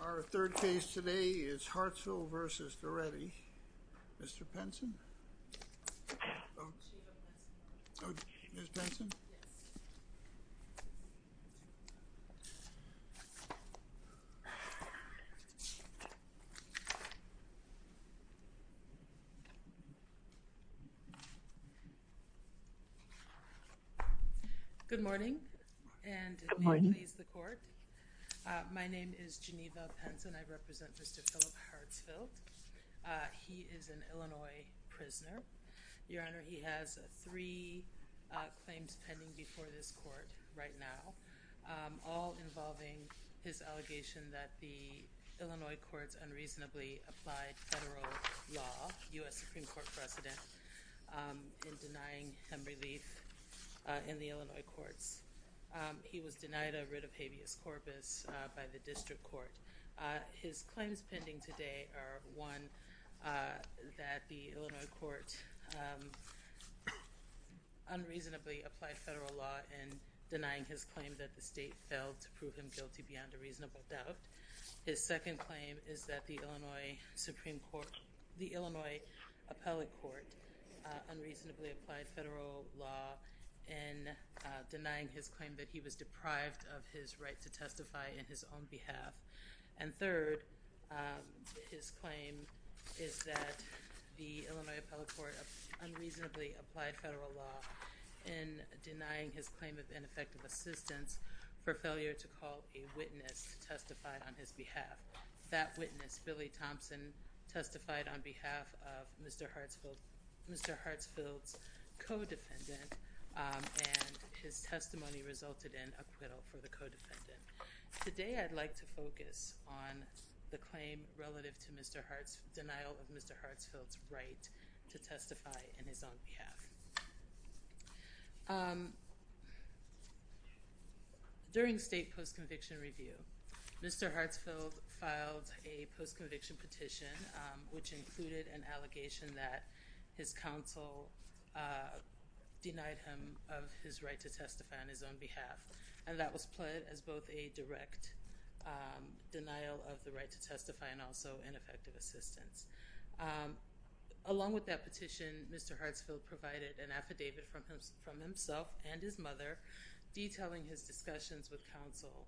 Our third case today is Hartsfield v. Dorethy. Mr. Penson? Good morning and my name is Geneva Penson. I represent Mr. Philip Hartsfield. He is an I'm a prisoner. Your Honor, he has three claims pending before this court right now, all involving his allegation that the Illinois courts unreasonably applied federal law, U.S. Supreme Court precedent, in denying him relief in the Illinois courts. He was denied a writ of habeas corpus by the court unreasonably applied federal law in denying his claim that the state failed to prove him guilty beyond a reasonable doubt. His second claim is that the Illinois Supreme Court, the Illinois appellate court unreasonably applied federal law in denying his claim that he was deprived of his right to testify in his own behalf. And third, his claim is that the Illinois appellate court unreasonably applied federal law in denying his claim of ineffective assistance for failure to call a witness to testify on his behalf. That witness, Billy Thompson, testified on behalf of Mr. Hartsfield's co-defendant, and his testimony resulted in acquittal for the co-defendant. Today, I'd like to focus on the claim relative to Mr. Hartsfield's right to testify in his own behalf. During state post-conviction review, Mr. Hartsfield filed a post-conviction petition which included an allegation that his counsel denied him of his right to testify on his own behalf, and that was pled as both a direct denial of the right to testify and also ineffective assistance. Along with that petition, Mr. Hartsfield provided an affidavit from himself and his mother detailing his discussions with counsel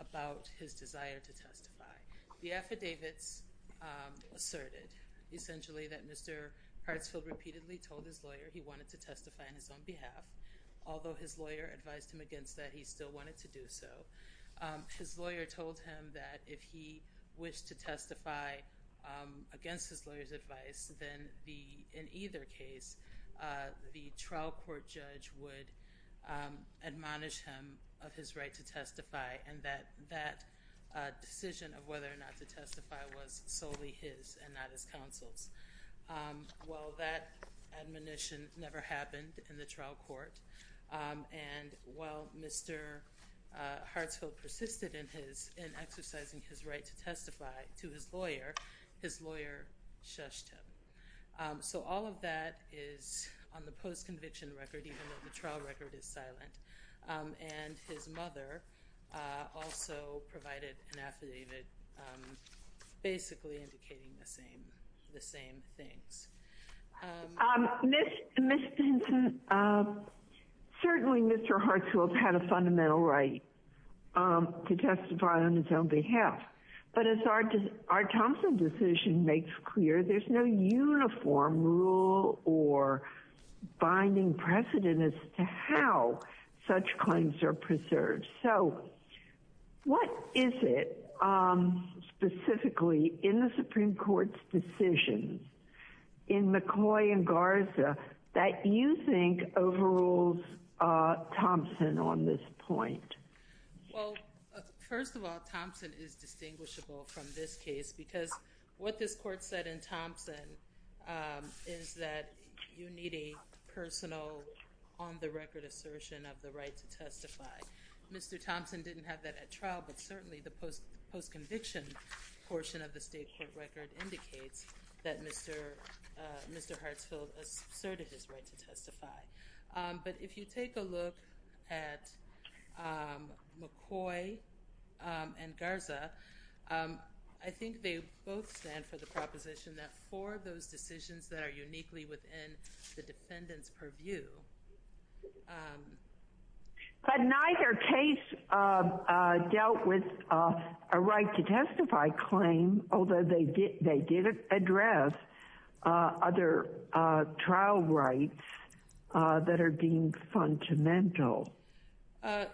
about his desire to testify. The affidavits asserted essentially that Mr. Hartsfield repeatedly told his lawyer he wanted to testify on his own behalf, although his lawyer advised him that he still wanted to do so. His lawyer told him that if he wished to testify against his lawyer's advice, then in either case, the trial court judge would admonish him of his right to testify, and that that decision of whether or not to testify was solely his and not his counsel's. Well, that admonition never happened in the trial court, and while Mr. Hartsfield persisted in exercising his right to testify to his lawyer, his lawyer shushed him. So all of that is on the post-conviction record, even though the trial record is silent, and his mother also provided an affidavit basically indicating the same things. Ms. Stinson, certainly Mr. Hartsfield had a fundamental right to testify on his own behalf, but as our counsel decision makes clear, there's no uniform rule or binding precedent as to how such claims are preserved. So what is it specifically in the Supreme Court's decision in McCoy and Garza that you think overrules Thompson on this point? Well, first of all, Thompson is distinguishable from this case because what this court said in Mr. Thompson didn't have that at trial, but certainly the post-conviction portion of the state court record indicates that Mr. Hartsfield asserted his right to testify. But if you take a look at McCoy and Garza, I think they both stand for the proposition that for those decisions that are uniquely within the defendant's purview. But neither case dealt with a right to testify claim, although they did address other trial rights that are deemed fundamental.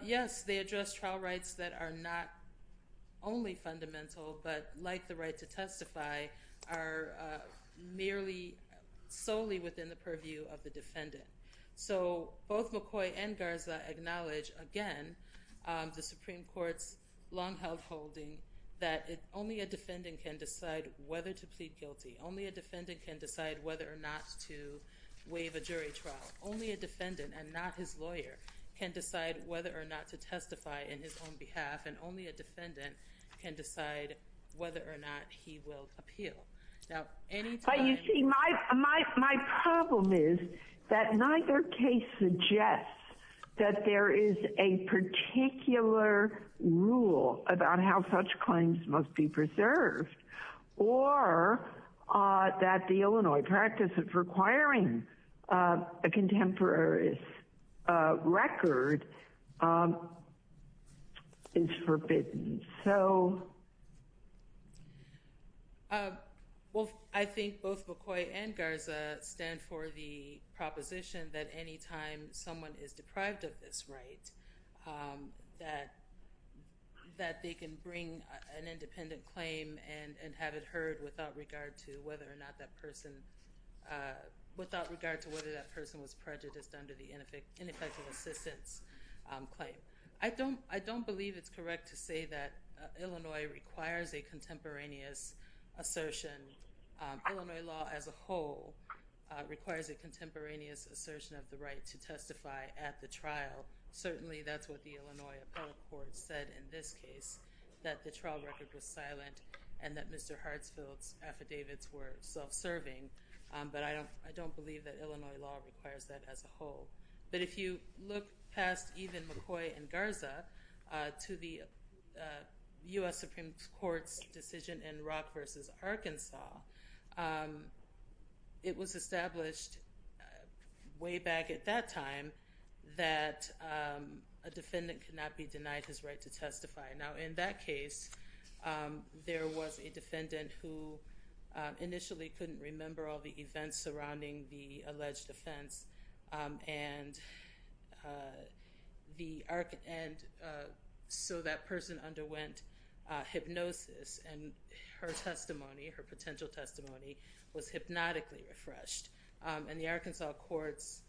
Yes, they address trial rights that are not only fundamental, but like the right to testify, are merely solely within the purview of the defendant. So both McCoy and Garza acknowledge, again, the Supreme Court's long-held holding that only a defendant can decide whether to plead guilty, only a defendant can decide whether or not to waive a jury trial, only a defendant and not his lawyer can decide whether or not to testify in his own behalf, and only a defendant can decide whether or not he will appeal. But you see, my problem is that neither case suggests that there is a particular rule about how such claims must be preserved, or that the Illinois practice of requiring a Well, I think both McCoy and Garza stand for the proposition that anytime someone is deprived of this right, that they can bring an independent claim and have it heard without regard to whether or not that person was prejudiced under the ineffective assistance claim. I don't believe it's correct to assertion. Illinois law as a whole requires a contemporaneous assertion of the right to testify at the trial. Certainly, that's what the Illinois Appellate Court said in this case, that the trial record was silent, and that Mr. Hartsfield's affidavits were self-serving. But I don't believe that Illinois law requires that as a whole. But if you look past even McCoy and Garza, to the US Supreme Court's decision in Rock v. Arkansas, it was established way back at that time that a defendant could not be denied his right to testify. Now, in that case, there was a defendant who initially couldn't remember all the events surrounding the alleged offense. And so that person underwent hypnosis, and her testimony, her potential testimony, was hypnotically refreshed. And the Arkansas courts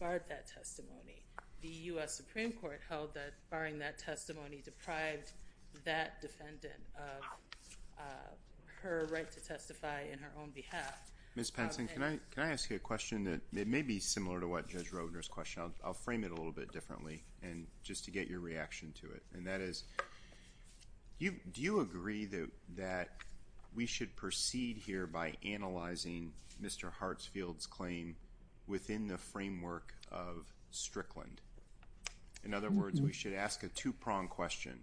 barred that testimony. The US Supreme Court held that barring that testimony deprived that defendant of her right to testify in her own behalf. Ms. Penson, can I ask you a question that may be similar to what Judge Roedner's question? I'll get your reaction to it. And that is, do you agree that we should proceed here by analyzing Mr. Hartsfield's claim within the framework of Strickland? In other words, we should ask a two-prong question.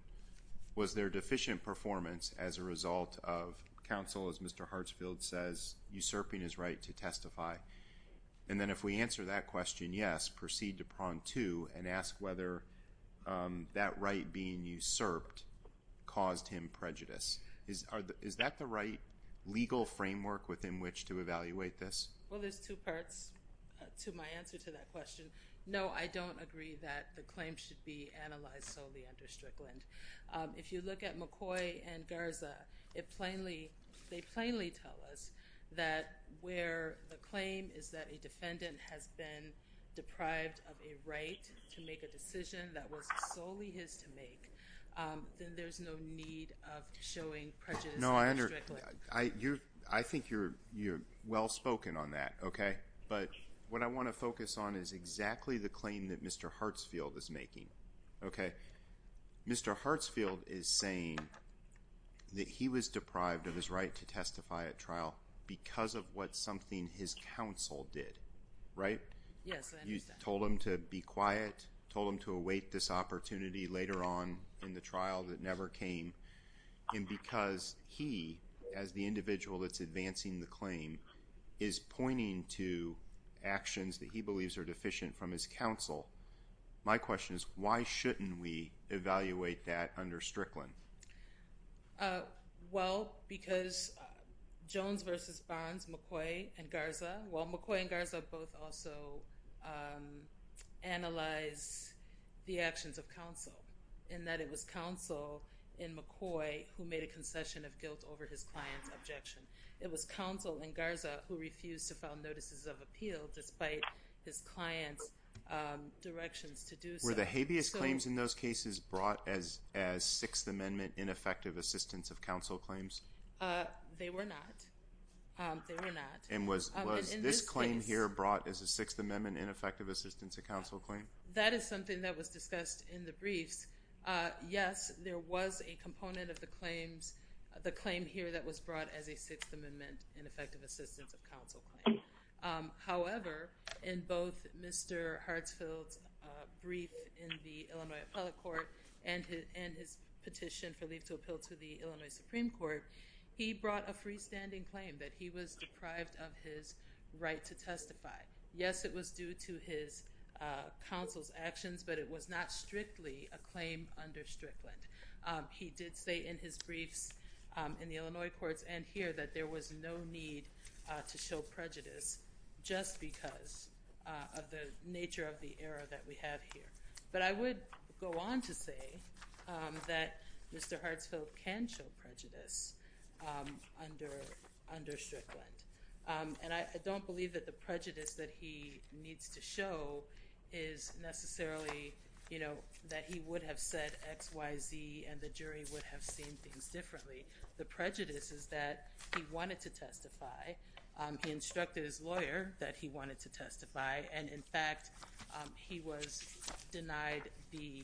Was there deficient performance as a result of counsel, as Mr. Hartsfield says, usurping his right to testify? And then if we answer that question, yes, proceed to prong two, and ask whether that right being usurped caused him prejudice. Is that the right legal framework within which to evaluate this? Well, there's two parts to my answer to that question. No, I don't agree that the claim should be analyzed solely under Strickland. If you look at McCoy and Garza, they plainly tell us that where the claim is that a defendant has been deprived of a right to make a decision that was solely his to make, then there's no need of showing prejudice in Strickland. No, I think you're well-spoken on that, okay? But what I want to focus on is exactly the claim that Mr. Hartsfield is making, okay? Mr. Hartsfield is saying that he was deprived of his right to testify at his counsel did, right? Yes, I understand. You told him to be quiet, told him to await this opportunity later on in the trial that never came, and because he, as the individual that's advancing the claim, is pointing to actions that he believes are deficient from his counsel, my question is why shouldn't we evaluate that under Strickland? Well, because Jones versus Bonds, McCoy and Garza, well, McCoy and Garza both also analyze the actions of counsel in that it was counsel in McCoy who made a concession of guilt over his client's objection. It was counsel in Garza who refused to file notices of appeal despite his client's directions to do so. Were the habeas claims in those cases brought as Sixth Amendment ineffective assistance of counsel claims? They were not. They were not. And was this claim here brought as a Sixth Amendment ineffective assistance of counsel claim? That is something that was discussed in the briefs. Yes, there was a component of the claims, the claim here that was brought as a Sixth Amendment ineffective assistance of counsel claim. However, in both Mr. Hartsfield's brief in the Illinois Appellate Court and his petition for leave to appeal to the Illinois Supreme Court, he brought a freestanding claim that he was deprived of his right to testify. Yes, it was due to his counsel's actions, but it was not strictly a claim under Strickland. He did say in his briefs in the Illinois courts and here that there was no need to show prejudice just because of the nature of the error that we have here. But I would go on to say that Mr. Hartsfield can show prejudice under Strickland. And I don't believe that the prejudice that he needs to show is necessarily, you know, that he would have said X, Y, Z and the jury would have seen things differently. The prejudice is that he wanted to testify. He instructed his lawyer that he wanted to testify. And in fact, he was denied the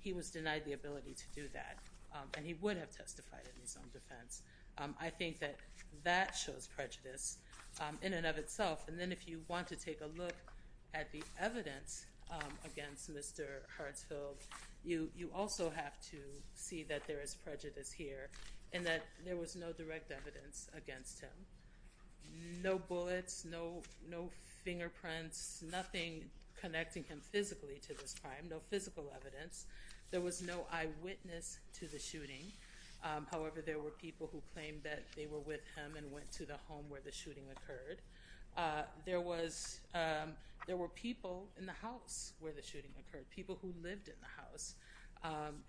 he was denied the ability to do that and he would have testified in his own defense. I think that that shows prejudice in and of itself. And then if you want to take a look at the evidence against Mr. Hartsfield, you also have to see that there is prejudice here and that there was no direct evidence against him. No bullets, no, no fingerprints, nothing connecting him physically to this crime, no physical evidence. However, there were people who claimed that they were with him and went to the home where the shooting occurred. There was there were people in the house where the shooting occurred, people who lived in the house.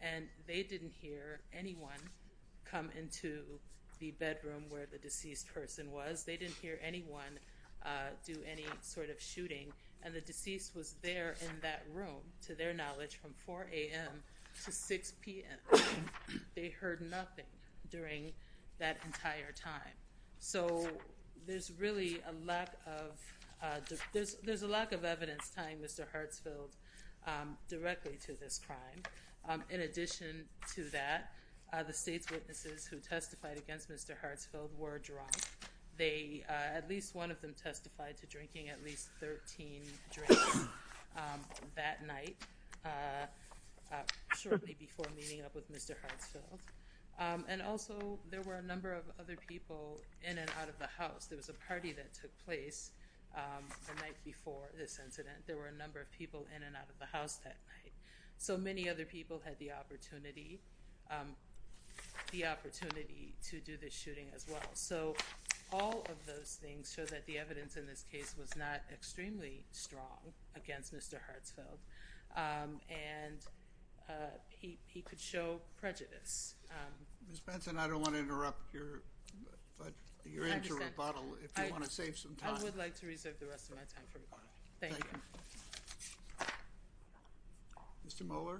And they didn't hear anyone come into the bedroom where the deceased person was. They didn't hear anyone do any sort of shooting. And the deceased was there in that room, to their knowledge, from 4 a.m. to 6 p.m. They heard nothing during that entire time. So there's really a lack of there's a lack of evidence tying Mr. Hartsfield directly to this crime. In addition to that, the state's witnesses who testified against Mr. Hartsfield were drunk. At least one of them testified to drinking at least 13 drinks that night shortly before meeting up with Mr. Hartsfield. And also there were a number of other people in and out of the house. There was a party that took place the night before this incident. There were a number of people in and out of the house that night. So many other people had the opportunity to do this shooting as well. So all of those things show that the evidence in this case was not extremely strong against Mr. Hartsfield. And he could show prejudice. Ms. Benson, I don't want to interrupt your interim rebuttal if you want to save some time. I would like to reserve the rest of my time for rebuttal. Thank you. Mr. Mohler.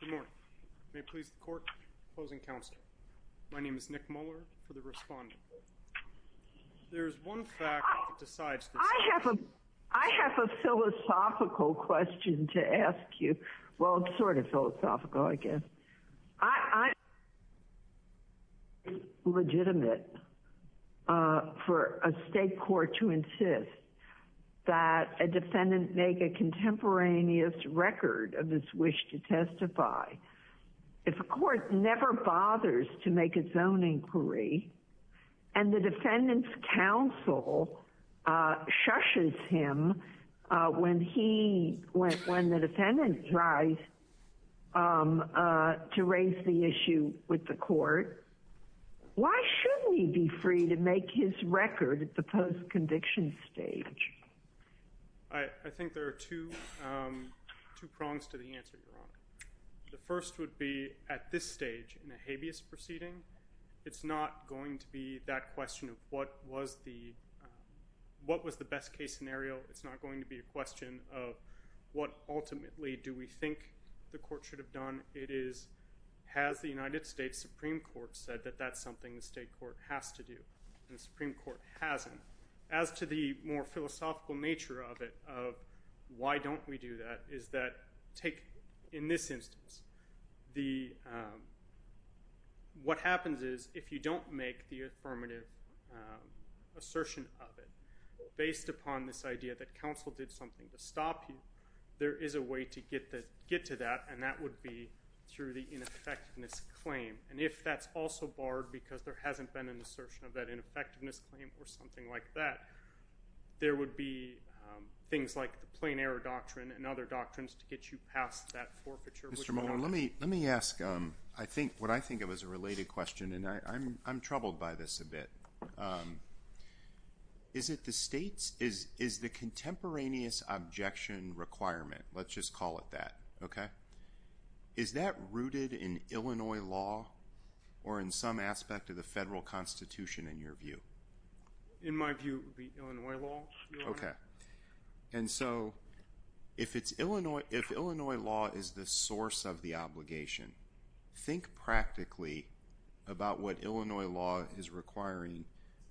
Good morning. May it please the court. Closing counsel. My name is Nick Mohler for the respondent. There is one fact that decides this. I have a philosophical question to ask you. Well, sort of philosophical, I guess. I. Legitimate. For a state court to insist that a defendant make a contemporaneous record of this wish to testify. If a court never bothers to make its own inquiry. And the defendant's counsel shushes him when the defendant tries to raise the issue with the court. Why shouldn't he be free to make his record at the post conviction stage? I think there are two prongs to the answer, Your Honor. The first would be at this stage in the habeas proceeding. It's not going to be that question of what was the best case scenario. It's not going to be a question of what ultimately do we think the court should have done. It is has the United States Supreme Court said that that's something the state court has to do. And the Supreme Court hasn't. As to the more philosophical nature of it, of why don't we do that, is that take in this instance, what happens is if you don't make the affirmative assertion of it, based upon this idea that counsel did something to stop you, there is a way to get to that. And that would be through the ineffectiveness claim. And if that's also barred because there hasn't been an assertion of that ineffectiveness claim or something like that, there would be things like the plain error doctrine and other doctrines to get you past that forfeiture. Mr. Mohler, let me ask what I think of as a related question. And I'm troubled by this a bit. Is it the state's, is the contemporaneous objection requirement, let's just call it that, okay, is that rooted in Illinois law or in some aspect of the federal constitution in your view? In my view, it would be Illinois law. Okay. And so if Illinois law is the source of the obligation, think practically about what Illinois law is requiring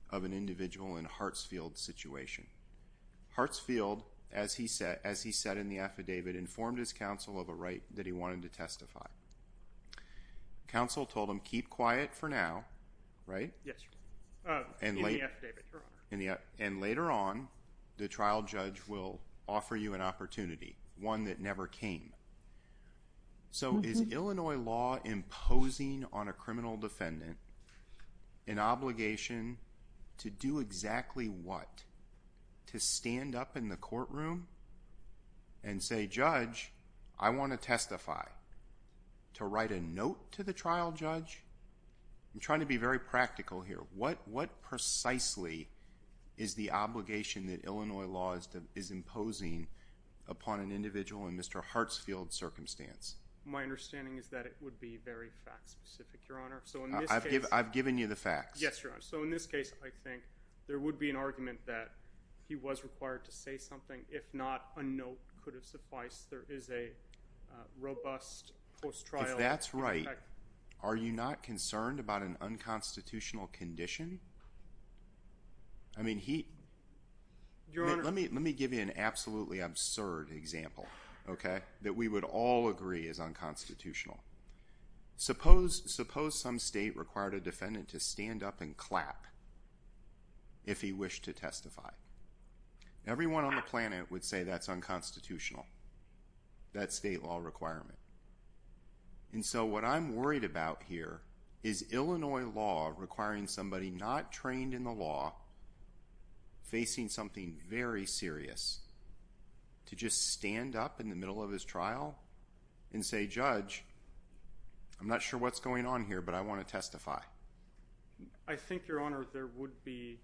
of an individual in Hartsfield's situation. Hartsfield, as he said in the affidavit, informed his counsel of a right that he wanted to testify. Counsel told him, keep quiet for now, right? Yes. In the affidavit, Your Honor. And later on, the trial judge will offer you an opportunity, one that never came. So is Illinois law imposing on a criminal defendant an obligation to do exactly what? To stand up in the courtroom and say, Judge, I want to testify? To write a note to the trial judge? I'm trying to be very practical here. What precisely is the obligation that Illinois law is imposing upon an individual in Mr. Hartsfield's circumstance? My understanding is that it would be very fact-specific, Your Honor. I've given you the facts. Yes, Your Honor. So in this case, I think there would be an argument that he was required to say something. If not, a note could have sufficed. There is a robust post-trial effect. If that's right, are you not concerned about an unconstitutional condition? I mean, he— Your Honor— Let me give you an absolutely absurd example, okay, that we would all agree is unconstitutional. Suppose some state required a defendant to stand up and clap if he wished to testify. Everyone on the planet would say that's unconstitutional, that state law requirement. And so what I'm worried about here is Illinois law requiring somebody not trained in the law, facing something very serious, to just stand up in the middle of his trial and say, Judge, I'm not sure what's going on here, but I want to testify. I think, Your Honor, there would be,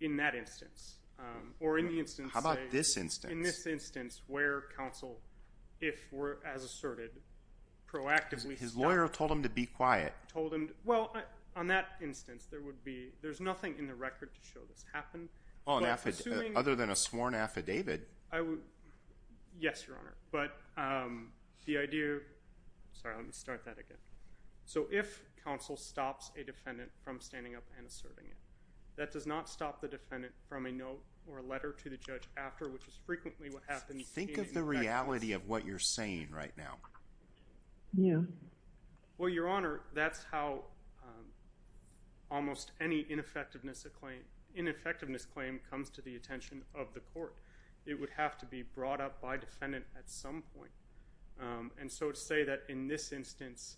in that instance, or in the instance— How about this instance? In this instance, where counsel, if as asserted, proactively— His lawyer told him to be quiet. Well, on that instance, there would be—there's nothing in the record to show this happened. Other than a sworn affidavit. Yes, Your Honor. But the idea—sorry, let me start that again. So if counsel stops a defendant from standing up and asserting it, that does not stop the defendant from a note or a letter to the judge after, which is frequently what happens— Think of the reality of what you're saying right now. Yeah. Well, Your Honor, that's how almost any ineffectiveness claim comes to the attention of the court. It would have to be brought up by defendant at some point. And so to say that in this instance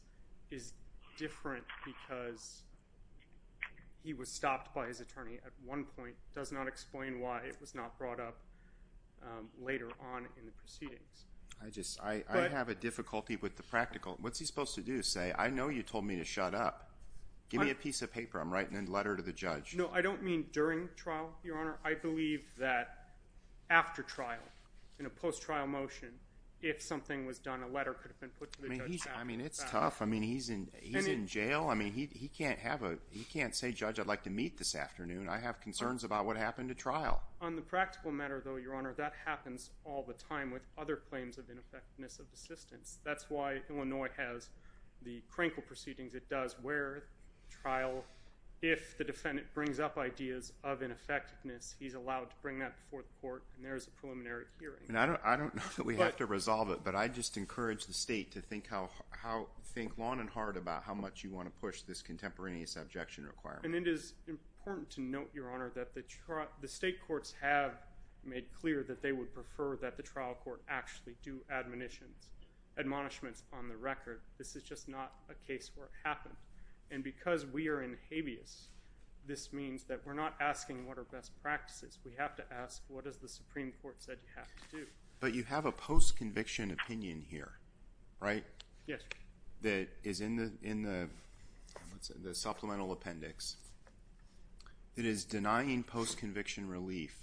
is different because he was stopped by his attorney at one point does not explain why it was not brought up later on in the proceedings. I have a difficulty with the practical—what's he supposed to do? Say, I know you told me to shut up. Give me a piece of paper. I'm writing a letter to the judge. No, I don't mean during trial, Your Honor. I believe that after trial, in a post-trial motion, if something was done, a letter could have been put to the judge. I mean, it's tough. I mean, he's in jail. I mean, he can't have a—he can't say, Judge, I'd like to meet this afternoon. I have concerns about what happened at trial. On the practical matter, though, Your Honor, that happens all the time with other claims of ineffectiveness of assistance. That's why Illinois has the Krinkle proceedings. It does where the trial—if the defendant brings up ideas of ineffectiveness, he's allowed to bring that before the court, and there is a preliminary hearing. I don't know that we have to resolve it, but I just encourage the state to think long and hard about how much you want to push this contemporaneous objection requirement. And it is important to note, Your Honor, that the state courts have made clear that they would prefer that the trial court actually do admonishments on the record. This is just not a case where it happened. And because we are in habeas, this means that we're not asking what are best practices. We have to ask what has the Supreme Court said you have to do. But you have a post-conviction opinion here, right? Yes, Your Honor. That is in the supplemental appendix. It is denying post-conviction relief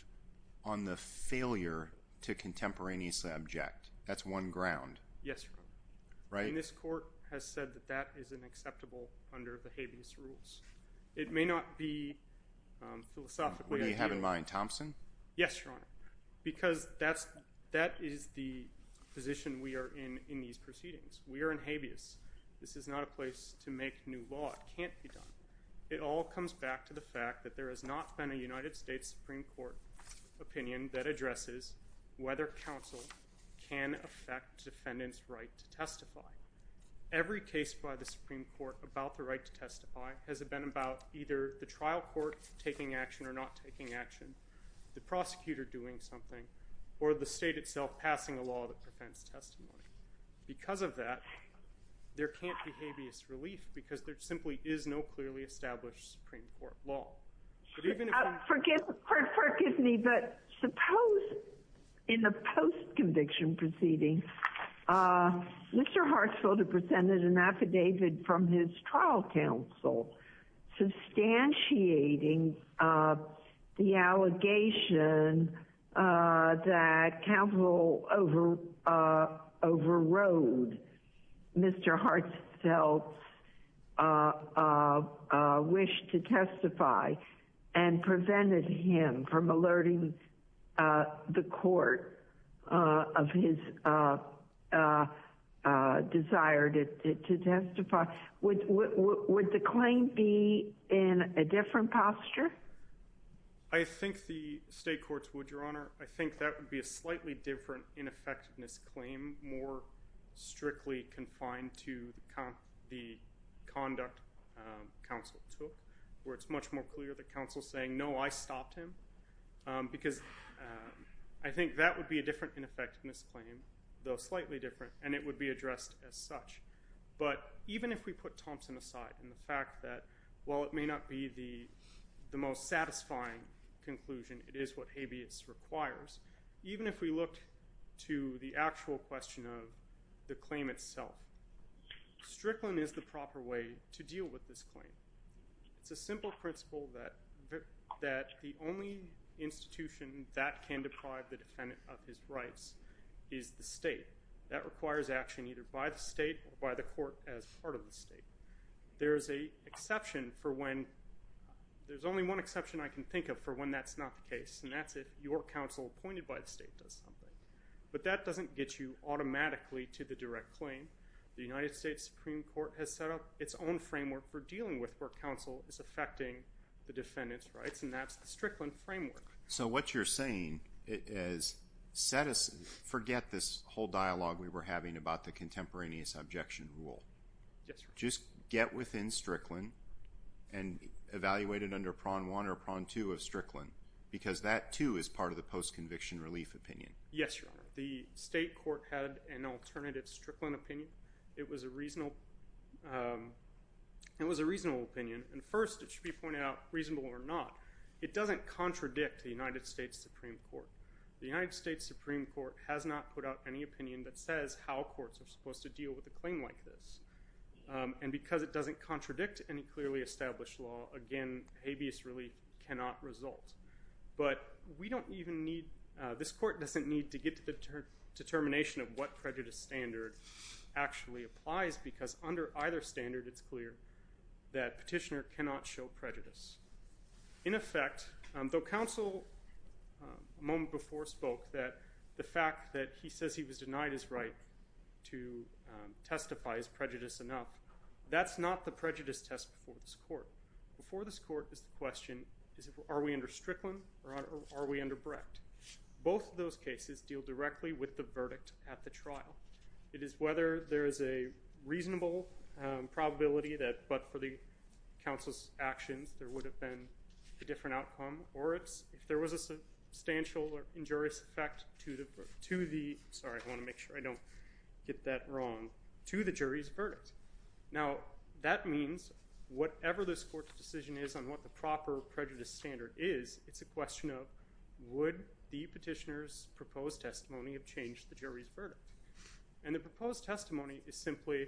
on the failure to contemporaneously object. That's one ground. Yes, Your Honor. And this court has said that that is unacceptable under the habeas rules. It may not be philosophically ideal. What do you have in mind, Thompson? Yes, Your Honor. Because that is the position we are in in these proceedings. We are in habeas. This is not a place to make new law. It can't be done. It all comes back to the fact that there has not been a United States Supreme Court opinion that addresses whether counsel can affect defendant's right to testify. Every case by the Supreme Court about the right to testify has been about either the trial court taking action or not taking action, the prosecutor doing something, or the state itself passing a law that prevents testimony. Because of that, there can't be habeas relief because there simply is no clearly established Supreme Court law. Forgive me, but suppose in the post-conviction proceeding, Mr. Hartsfield had presented an affidavit from his trial counsel substantiating the allegation that counsel overrode Mr. Hartsfield's wish to testify and prevented him from alerting the court of his desire to testify. Would the claim be in a different posture? I think the state courts would, Your Honor. I think that would be a slightly different ineffectiveness claim, more strictly confined to the conduct counsel took, where it's much more clear that counsel is saying, no, I stopped him. Because I think that would be a different ineffectiveness claim, though slightly different, and it would be addressed as such. But even if we put Thompson aside, and the fact that while it may not be the most satisfying conclusion, it is what habeas requires, even if we look to the actual question of the claim itself, Strickland is the proper way to deal with this claim. It's a simple principle that the only institution that can deprive the defendant of his rights is the state. That requires action either by the state or by the court as part of the state. There's only one exception I can think of for when that's not the case, and that's if your counsel appointed by the state does something. But that doesn't get you automatically to the direct claim. The United States Supreme Court has set up its own framework for dealing with where counsel is affecting the defendant's rights, and that's the Strickland framework. So what you're saying is forget this whole dialogue we were having about the contemporaneous objection rule. Yes, Your Honor. Just get within Strickland and evaluate it under prong one or prong two of Strickland because that, too, is part of the post-conviction relief opinion. Yes, Your Honor. The state court had an alternative Strickland opinion. It was a reasonable opinion, and first it should be pointed out reasonable or not. It doesn't contradict the United States Supreme Court. The United States Supreme Court has not put out any opinion that says how courts are supposed to deal with a claim like this, and because it doesn't contradict any clearly established law, again, habeas relief cannot result. But this court doesn't need to get to the determination of what prejudice standard actually applies because under either standard it's clear that petitioner cannot show prejudice. In effect, though counsel a moment before spoke that the fact that he says he was denied his right to testify is prejudice enough, that's not the prejudice test before this court. Before this court is the question, are we under Strickland or are we under Brecht? Both of those cases deal directly with the verdict at the trial. It is whether there is a reasonable probability that for the counsel's actions there would have been a different outcome or if there was a substantial injurious effect to the jury's verdict. Now, that means whatever this court's decision is on what the proper prejudice standard is, it's a question of would the petitioner's proposed testimony have changed the jury's verdict. And the proposed testimony is simply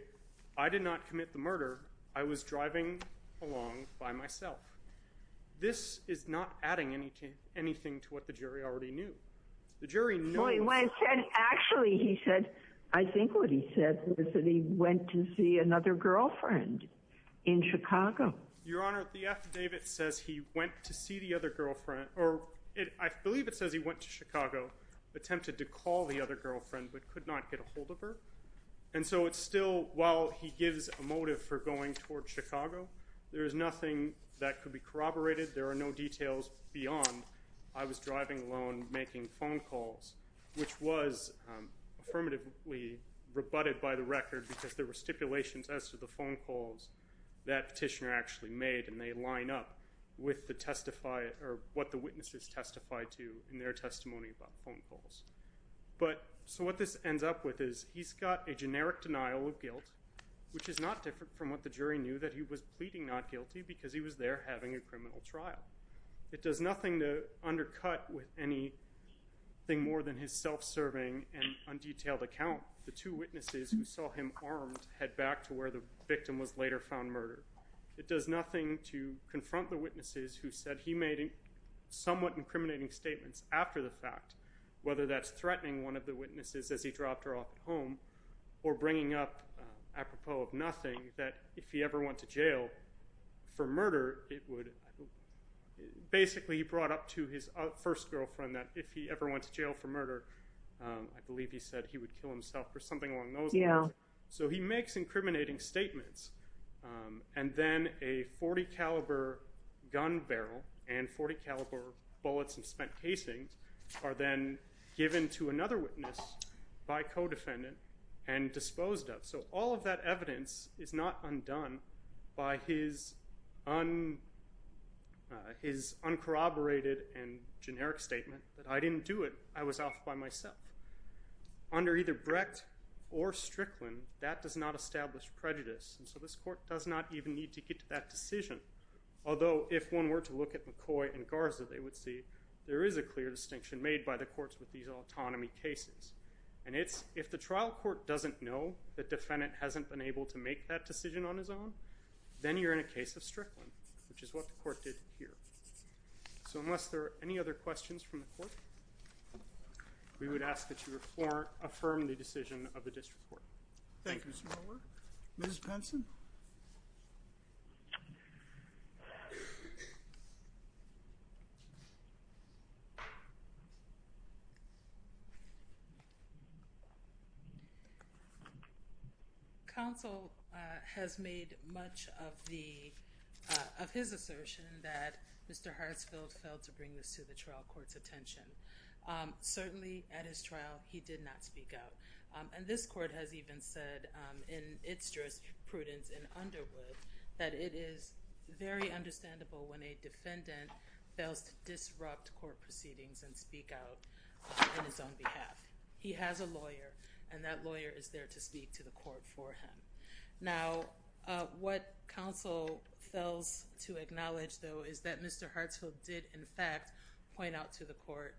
I did not commit the murder, I was driving along by myself. This is not adding anything to what the jury already knew. The jury knows... Actually, he said, I think what he said was that he went to see another girlfriend in Chicago. Your Honor, the affidavit says he went to see the other girlfriend or I believe it says he went to Chicago, attempted to call the other girlfriend but could not get a hold of her. And so it's still while he gives a motive for going towards Chicago, there is nothing that could be corroborated. There are no details beyond I was driving alone making phone calls, which was affirmatively rebutted by the record because there were stipulations as to the phone calls that petitioner actually made and they line up with the testifier or what the witnesses testified to in their testimony about phone calls. So what this ends up with is he's got a generic denial of guilt, which is not different from what the jury knew, that he was pleading not guilty because he was there having a criminal trial. It does nothing to undercut with anything more than his self-serving and undetailed account. The two witnesses who saw him armed head back to where the victim was later found murdered. It does nothing to confront the witnesses who said he made somewhat incriminating statements after the fact, whether that's threatening one of the witnesses as he dropped her off at home or bringing up apropos of nothing that if he ever went to jail for murder, it would basically brought up to his first girlfriend that if he ever went to jail for murder, I believe he said he would kill himself or something along those lines. So he makes incriminating statements. And then a 40 caliber gun barrel and 40 caliber bullets and spent casings are then given to another witness by co-defendant and disposed of. So all of that evidence is not undone by his uncorroborated and generic statement that I didn't do it. I was off by myself under either Brecht or Strickland. That does not establish prejudice. And so this court does not even need to get to that decision. Although if one were to look at McCoy and Garza, they would see there is a clear distinction made by the courts with these autonomy cases. And it's if the trial court doesn't know the defendant hasn't been able to make that decision on his own, then you're in a case of Strickland, which is what the court did here. So unless there are any other questions from the court, we would ask that you were for affirm the decision of the district court. Thank you, Ms. Moeller. Ms. Penson? Counsel has made much of his assertion that Mr. Hartsfield failed to bring this to the trial court's attention. Certainly at his trial, he did not speak up. And this court has even said, in its jurisprudence in Underwood, that it is very understandable when a defendant fails to disrupt court proceedings and speak out on his own behalf. He has a lawyer, and that lawyer is there to speak to the court for him. Now, what counsel fails to acknowledge, though, is that Mr. Hartsfield did, in fact, point out to the court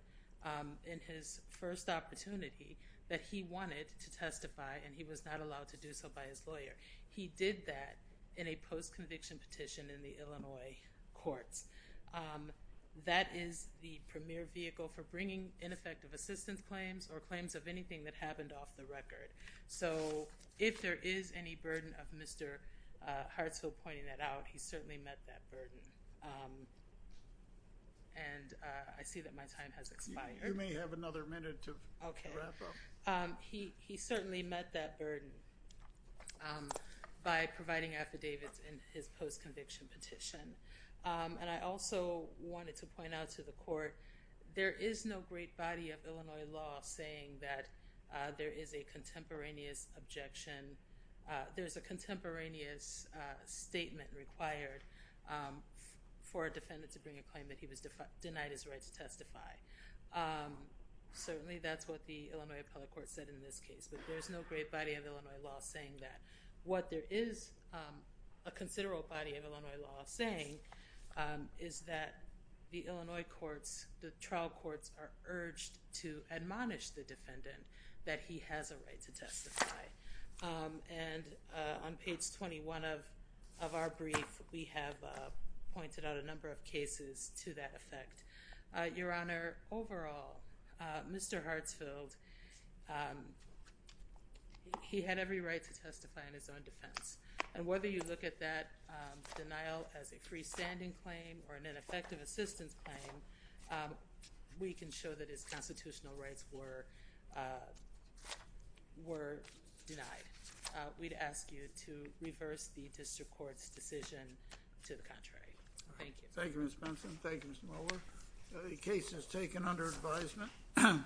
in his first opportunity that he wanted to testify, and he was not allowed to do so by his lawyer. He did that in a post-conviction petition in the Illinois courts. That is the premier vehicle for bringing ineffective assistance claims or claims of anything that happened off the record. So if there is any burden of Mr. Hartsfield pointing that out, he certainly met that burden. And I see that my time has expired. You may have another minute to wrap up. Okay. He certainly met that burden by providing affidavits in his post-conviction petition. And I also wanted to point out to the court, there is no great body of Illinois law saying that there is a contemporaneous objection. for a defendant to bring a claim that he was denied his right to testify. Certainly, that's what the Illinois appellate court said in this case. But there is no great body of Illinois law saying that. What there is a considerable body of Illinois law saying is that the Illinois courts, the trial courts, are urged to admonish the defendant that he has a right to testify. And on page 21 of our brief, we have pointed out a number of cases to that effect. Your Honor, overall, Mr. Hartsfield, he had every right to testify in his own defense. And whether you look at that denial as a freestanding claim or an ineffective assistance claim, we can show that his constitutional rights were denied. We'd ask you to reverse the district court's decision to the contrary. Thank you. Thank you, Ms. Benson. Thank you, Ms. Mueller. The case is taken under advisement.